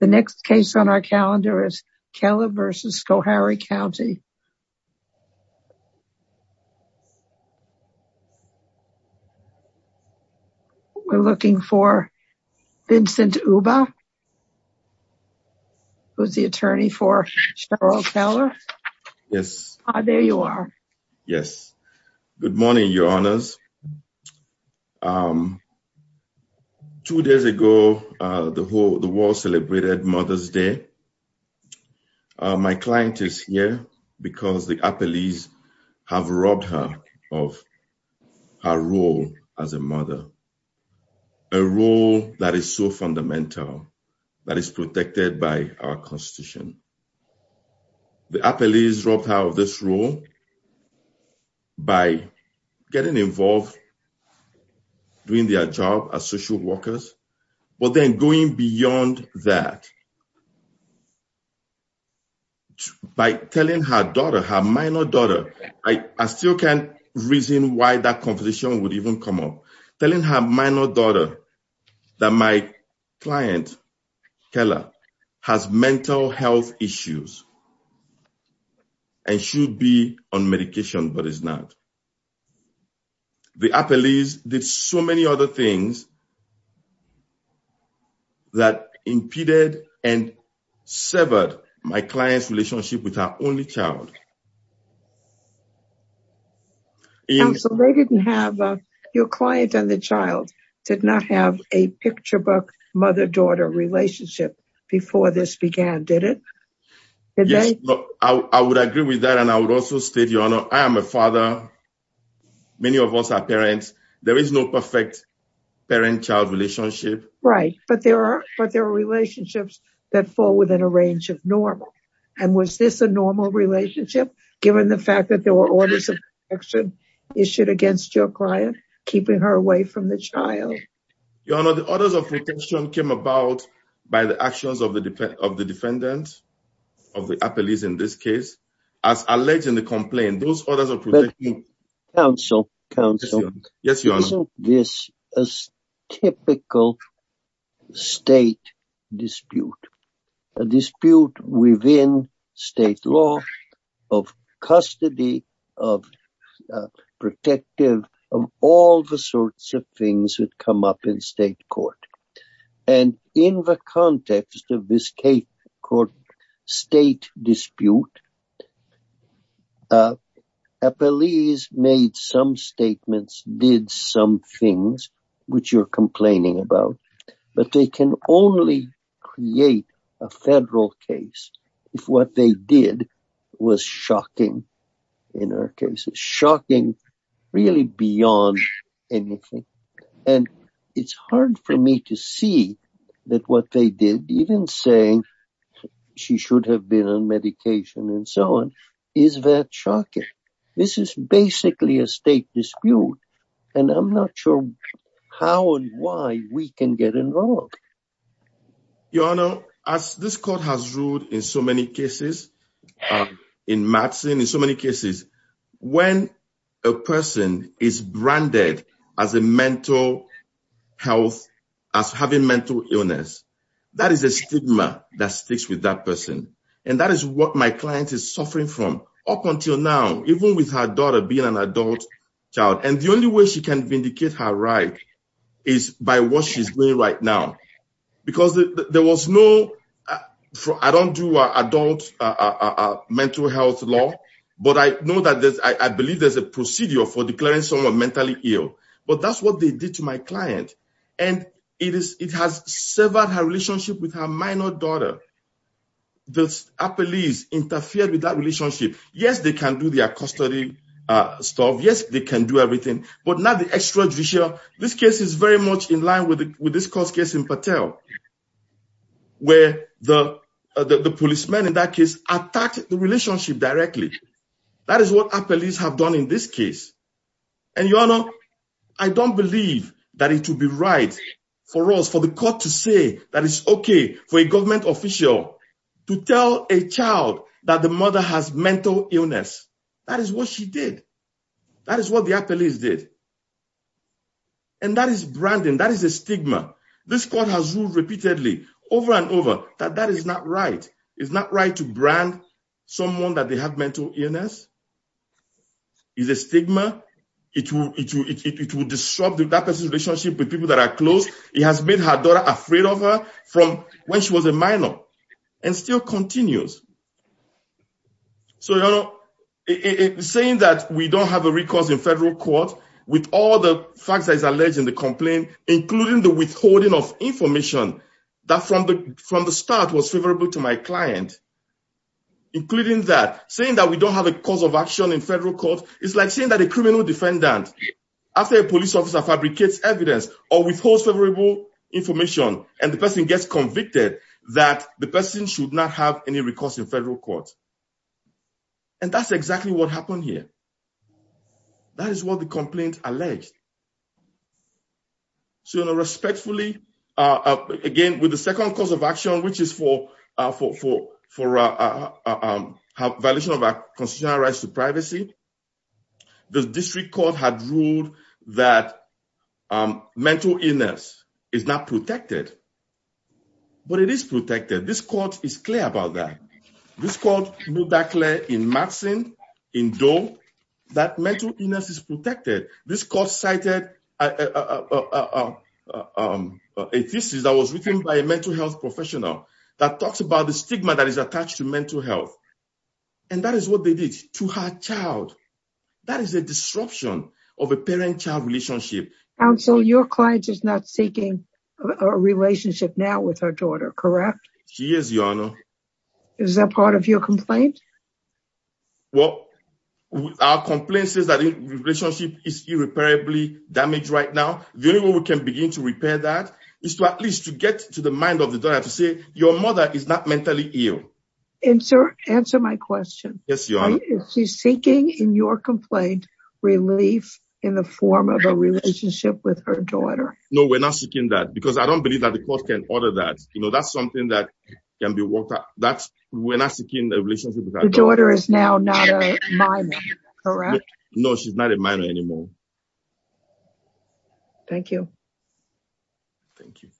The next case on our calendar is Keller versus Schoharie County. We're looking for Vincent Uba, who's the attorney for Cheryl Keller. Yes, there you are. Yes. Good morning, your honors. Two days ago, the whole the world celebrated Mother's Day. My client is here because the Appalachians have robbed her of her role as a mother, a role that is so fundamental, that is protected by our constitution. The Appalachians robbed her of this role by getting involved, doing their job as social workers, but then going beyond that by telling her daughter, her minor daughter, I still can't reason why that conversation would come up, telling her minor daughter that my client Keller has mental health issues and should be on medication, but is not. The Appalachians did so many other things that impeded and severed my client's relationship with her only child. Your client and the child did not have a picture book mother-daughter relationship before this began, did it? Yes, I would agree with that and I would also state your honor, I am a father, many of us are parents, there is no perfect parent-child relationship. Right, but there are relationships that fall within a range of normal. And was this a normal relationship, given the fact that there were orders of protection issued against your client, keeping her away from the child? Your honor, the orders of protection came about by the actions of the defendant, of the Appalachians in this case, as alleged in the complaint. But counsel, isn't this a typical state dispute? A dispute within state law of custody, of protective, of all the sorts of things that come up in state court. And in the context of this state dispute, Appalachians made some statements, did some things which you're complaining about, but they can only create a federal case if what they did was shocking in our case, shocking really beyond anything. And it's hard for me to see that what they did, even saying she should have been on medication and so on, is that shocking? This is basically a state dispute and I'm not sure how and why we can get involved. Your honor, as this court has ruled in so many cases, in Madison, in so many cases, when a person is branded as a mental health, as having mental illness, that is a stigma that sticks with that person. And that is what my client is suffering from up until now, even with her daughter being an adult child. And the only way she can vindicate her right is by what she's doing right now. Because there was no, I don't do adult mental health law, but I know that there's, I believe there's a procedure for declaring someone mentally ill. But that's what they did to my client. And it has severed her relationship with her minor daughter. The police interfered with that relationship. Yes, they can do their custody stuff. Yes, they can do everything, but not the extrajudicial. This case is very much in line with this court's case in Patel, where the policeman in that case attacked the relationship directly. That is what our police have done in this case. And your honor, I don't believe that it would be right for us, for the court to say that it's okay for a government official to tell a child that the mother has mental illness. That is what she did. That is what the police did. And that is branding. That is a stigma. This court has ruled repeatedly, over and over, that that is not right. It's not right to brand someone that they have mental illness. It's a stigma. It will disrupt that person's relationship with people that are close. It has made her daughter afraid of her from when she was a minor, and still continues. So, your honor, saying that we don't have a recourse in federal court, with all the facts that is alleged in the complaint, including the withholding of information that from the start was favorable to my client, including that, saying that we don't have a cause of action in federal court, is like saying that a criminal defendant, after a police officer fabricates evidence, or withholds favorable information, and the person gets convicted, that the person should not have any recourse in federal court. And that's exactly what happened here. That is what the complaint alleged. So, your honor, respectfully, again, with the second cause of action, which is for violation of our constitutional rights to privacy, the district court had ruled that mental illness is not protected. But it is protected. This court is clear about that. This court ruled that clear in Maxine, in Doe, that mental illness is protected. This court cited a thesis that was written by a mental health professional that talks about the stigma that is attached to mental health. And that is what they did to her child. That is a disruption of a parent-child relationship. Counsel, your client is not seeking a relationship now with her daughter, correct? She is, your honor. Is that part of your complaint? Well, our complaint says that the relationship is irreparably damaged right now. The only way we can begin to repair that is to at least to get to the mind of the daughter, to say, your mother is not mentally ill. Answer my question. Yes, your honor. She's seeking, in your complaint, relief in the form of a relationship with her daughter. No, we're not seeking that because I don't believe that the court can order that. You know, that's something that can be worked out. We're not seeking a relationship with her. The daughter is now not a minor, correct? No, she's not a minor anymore. Thank you. Thank you.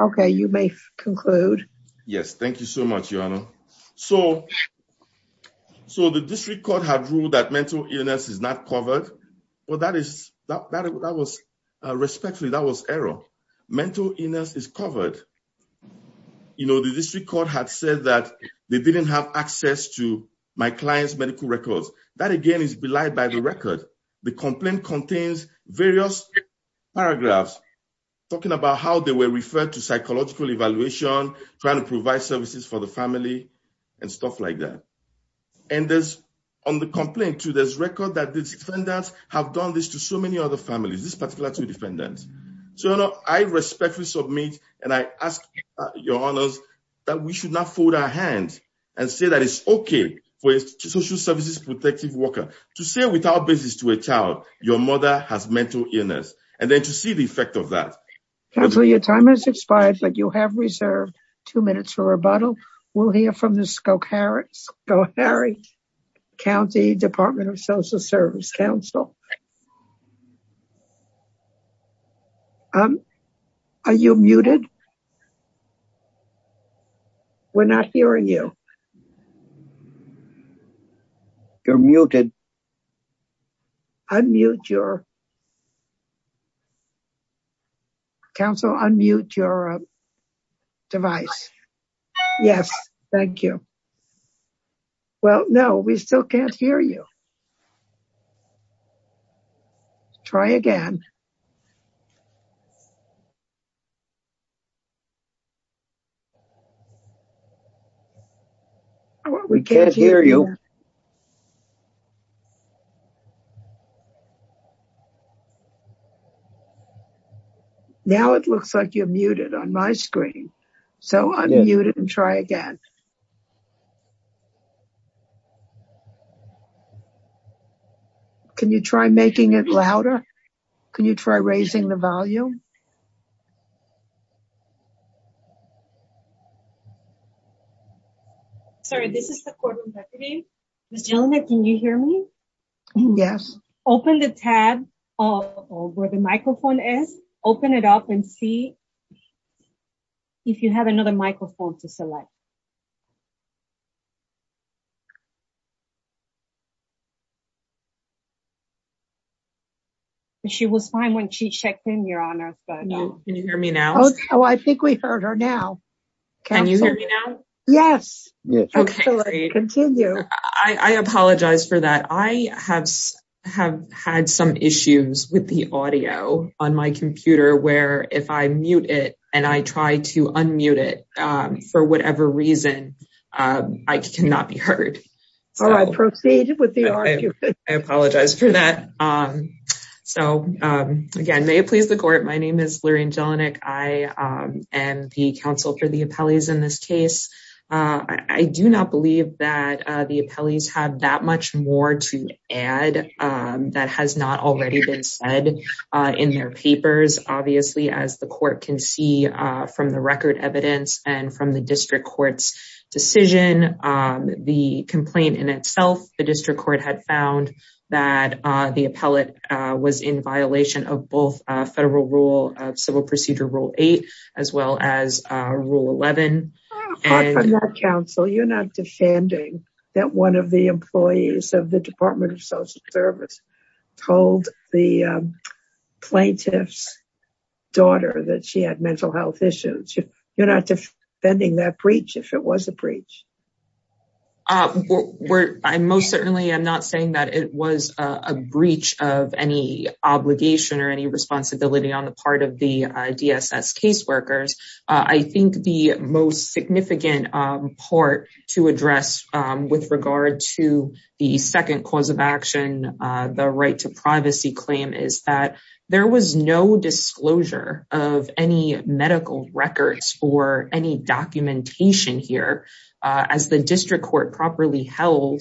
Okay, you may conclude. Yes, thank you so much, your honor. So the district court had ruled that mental illness is not covered. Well, respectfully, that was error. Mental illness is covered. You know, the district court had said that they didn't have access to my client's medical records. That, again, is belied by the record. The complaint contains various paragraphs talking about how they were referred to psychological evaluation, trying to provide services for the family, and stuff like that. And on the complaint, too, there's record that the defendants have done this to so many other families, this particular two defendants. So I respectfully submit, and I ask your honors, that we should not fold our hands and say that it's okay for a social services protective worker to say without basis to a child, your mother has mental illness, and then to see the effect of that. Counsel, your time has expired, but you have reserved two minutes for rebuttal. We'll hear from the Scowcarrick County Department of Social Service counsel. Are you muted? We're not hearing you. You're muted. Unmute your... Counsel, unmute your device. Yes, thank you. Well, no, we still can't hear you. Try again. We can't hear you. Now it looks like you're muted on my screen. So unmute it and try again. Can you try making it louder? Can you try raising the volume? Sorry, this is the courtroom deputy. Ms. Jelena, can you hear me? Yes. Open the tab where the microphone is. Open it up and see if you have another microphone to select. She was fine when she checked in, your honor. Can you hear me now? Oh, I think we heard her now. Can you hear me now? Yes. Okay, great. I apologize for that. I have had some issues with the audio on my computer where if I mute it and I try to unmute it for whatever reason, I cannot be heard. So I proceed with the argument. I apologize for that. So again, may it please the court, my name is Lorraine Jelinek. I am the counsel for the appellees in this case. I do not believe that the appellees have that much more to add that has not already been said in their papers. Obviously, as the court can see from the record evidence and from the district court's decision, the complaint in itself, the district court had found that the appellate was in violation of both federal rule of civil procedure rule eight, as well as rule 11. Counsel, you're not defending that one of the employees of the Department of Social Service told the plaintiff's daughter that she had mental health issues. You're not defending that breach if it was a breach. I most certainly am not saying that it was a breach of any obligation or any responsibility on the part of the DSS caseworkers. I think the most significant part to address with regard to the second cause of action, the right to privacy claim is that there was no disclosure of any medical records or any documentation here. As the district court properly held,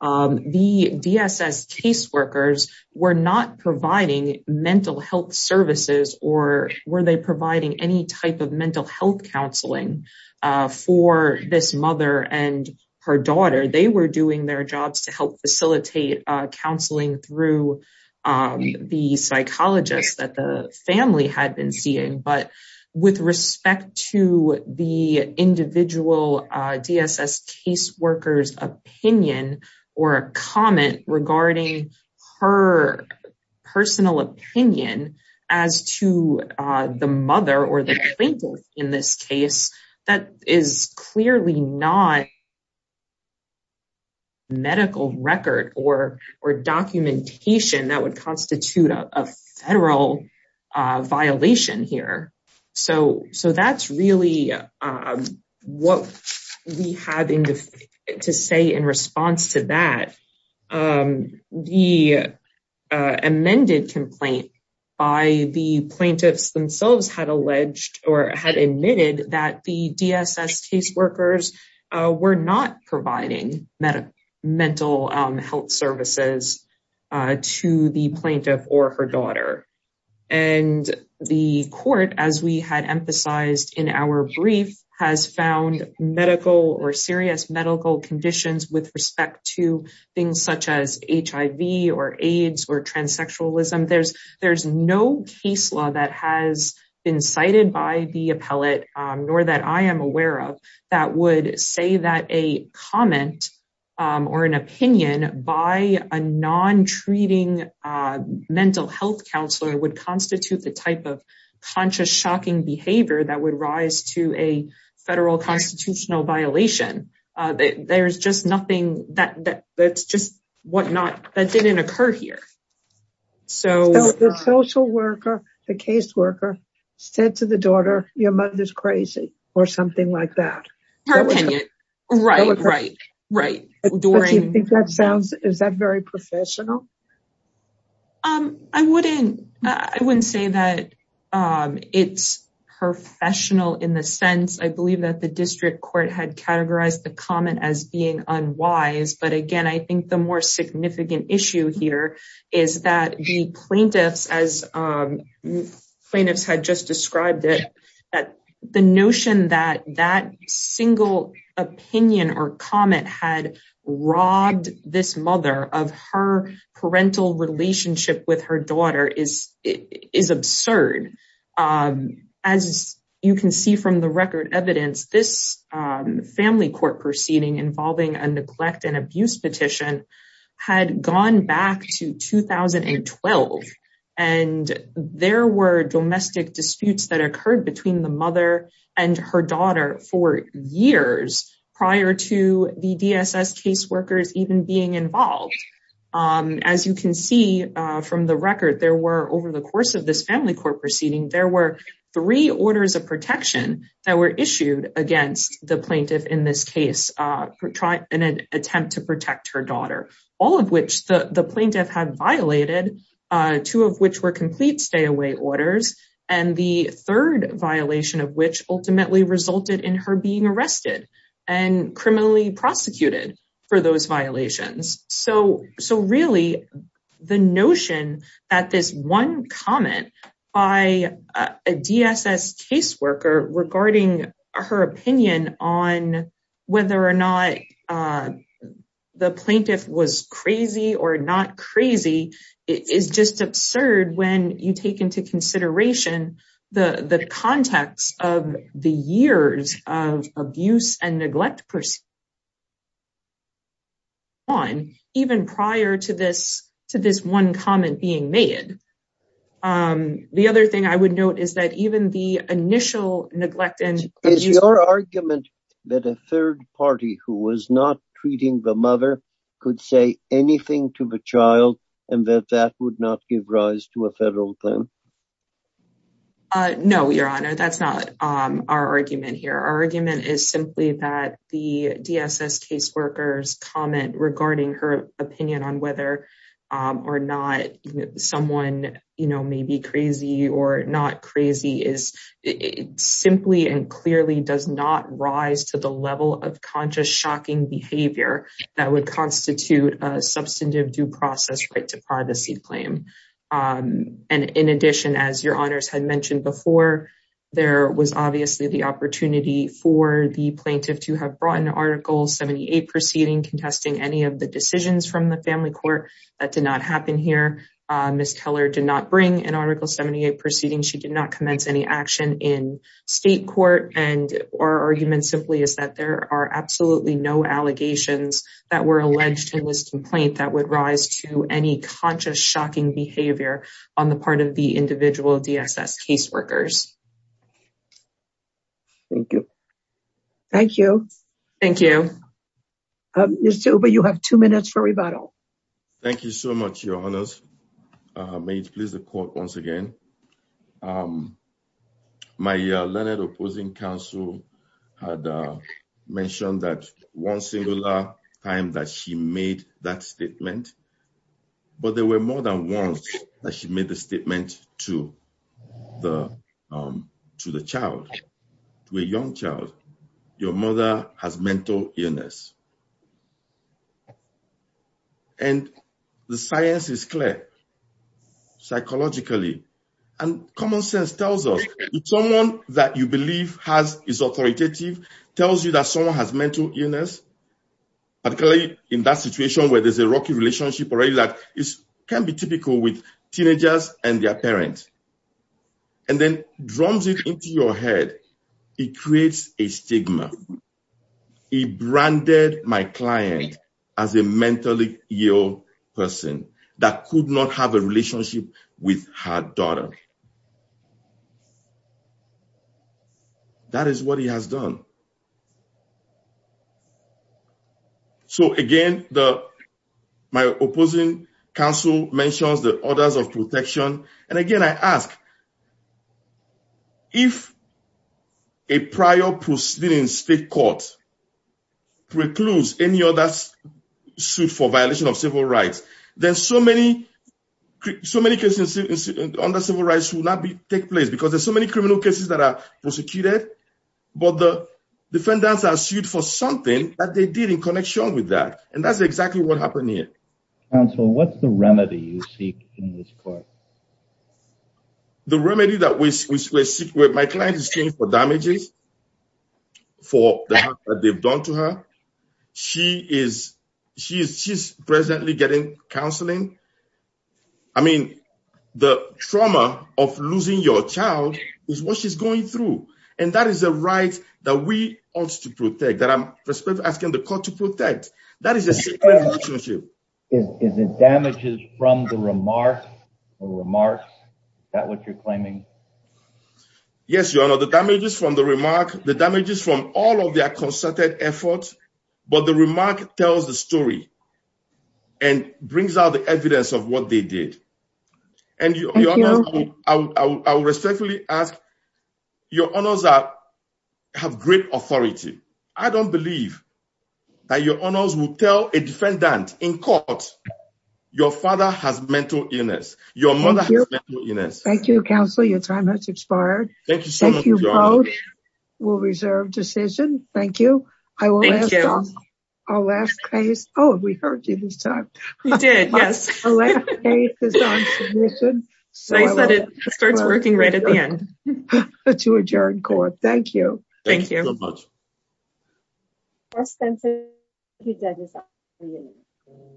the DSS caseworkers were not providing mental health services or were they providing any type of mental health counseling for this mother and her daughter. They were doing their jobs to help facilitate counseling through the psychologist that the family had been seeing, but with respect to the individual DSS caseworkers opinion or a comment regarding her personal opinion as to the mother or the plaintiff in this case, that is clearly not medical record or documentation that would constitute a federal violation here. So that's really what we have to say in response to that. The amended complaint by the plaintiffs themselves had alleged or had admitted that the DSS caseworkers were not providing mental health services to the plaintiff or her daughter. And the court, as we had emphasized in our brief, has found medical or serious medical conditions with respect to things such as HIV or been cited by the appellate, nor that I am aware of, that would say that a comment or an opinion by a non-treating mental health counselor would constitute the type of conscious shocking behavior that would rise to a federal constitutional violation. There's just nothing that's just that didn't occur here. So the social worker, the caseworker said to the daughter, your mother's crazy or something like that. Her opinion. Right, right, right. Do you think that sounds, is that very professional? I wouldn't, I wouldn't say that it's professional in the sense, I believe that the district court had categorized the comment as being unwise. But again, I think the more significant issue here is that the plaintiffs, as plaintiffs had just described it, that the notion that that single opinion or comment had robbed this mother of her parental relationship with her daughter is, is absurd. As you can see from the record evidence, this had gone back to 2012. And there were domestic disputes that occurred between the mother and her daughter for years prior to the DSS caseworkers even being involved. As you can see from the record, there were over the course of this family court proceeding, there were three orders of protection that were issued against the plaintiff in this case, in an attempt to protect her daughter, all of which the plaintiff had violated, two of which were complete stay away orders. And the third violation of which ultimately resulted in her being arrested and criminally prosecuted for those violations. So, so really, the notion that this one comment by a DSS caseworker regarding her opinion on whether or not the plaintiff was crazy or not crazy, is just absurd when you take into consideration the context of the years of abuse and neglect on even prior to this, to this one comment being made. The other thing I would note is that even the initial neglect and- Is your argument that a third party who was not treating the mother could say anything to the child and that that would not give rise to a federal claim? No, Your Honor, that's not our argument here. Our argument is simply that the DSS caseworker's comment regarding her opinion on whether or not someone, you know, may be crazy or not crazy is simply and clearly does not rise to the level of conscious shocking behavior that would constitute a substantive due process right to privacy claim. And in addition, as Your Honors had mentioned before, there was obviously the opportunity for the plaintiff to have brought an Article 78 proceeding contesting any of the decisions from the family court. That did not happen here. Ms. Keller did not bring an Article 78 proceeding. She did not commence any action in state court. And our argument simply is that there are absolutely no allegations that were alleged in this complaint that would rise to any conscious shocking behavior on the part of the individual DSS caseworkers. Thank you. Thank you. Thank you. Mr. Oba, you have two minutes for rebuttal. Thank you so much, Your Honors. May it please the court once again. My Leonard opposing counsel had mentioned that one singular time that she made that statement, but there were more than once that she made the statement to the, to the child, to a young child, your mother has mental illness. And the science is clear, psychologically, and common sense tells us someone that you believe has is authoritative tells you that someone has mental illness. But clearly, in that situation where there's a rocky relationship or a lack is can be typical with teenagers and their parents. And then drums it into your head, it creates a stigma. He branded my client as a mentally ill person that could not have a relationship with her daughter. That is what he has done. So again, the my opposing counsel mentions the orders of protection. And again, I ask, if a prior proceeding state court precludes any other suit for violation of civil rights, there's so many, so many cases under civil rights will not be take place because there's so many criminal cases that are prosecuted. But the defendants are sued for something that they did in connection with that. And that's exactly what happened here. And so what's the remedy you seek in this court? The remedy that we seek with my client is changed for damages. For what they've done to her. She is she is she's presently getting counseling. I mean, the trauma of losing your child is what she's going through. And that is a right that we ought to protect that I'm asking the court to protect. That is a secret relationship. Is it damages from the remarks or remarks that what you're claiming? Yes, your honor, the damages from the remark, the damages from all of their concerted efforts. But the remark tells the story and brings out the evidence of what they did. And I will respectfully ask your honors that have great authority. I don't believe that your honors will tell a defendant in court. Your father has mental illness. Your mother has mental illness. Thank you, counsel. Your time has expired. Thank you. We'll reserve decision. Thank you. I will. Our last case. Oh, we heard you this time. We did. Yes. So I said it starts working right at the end to adjourn court. Thank you. Thank you so much.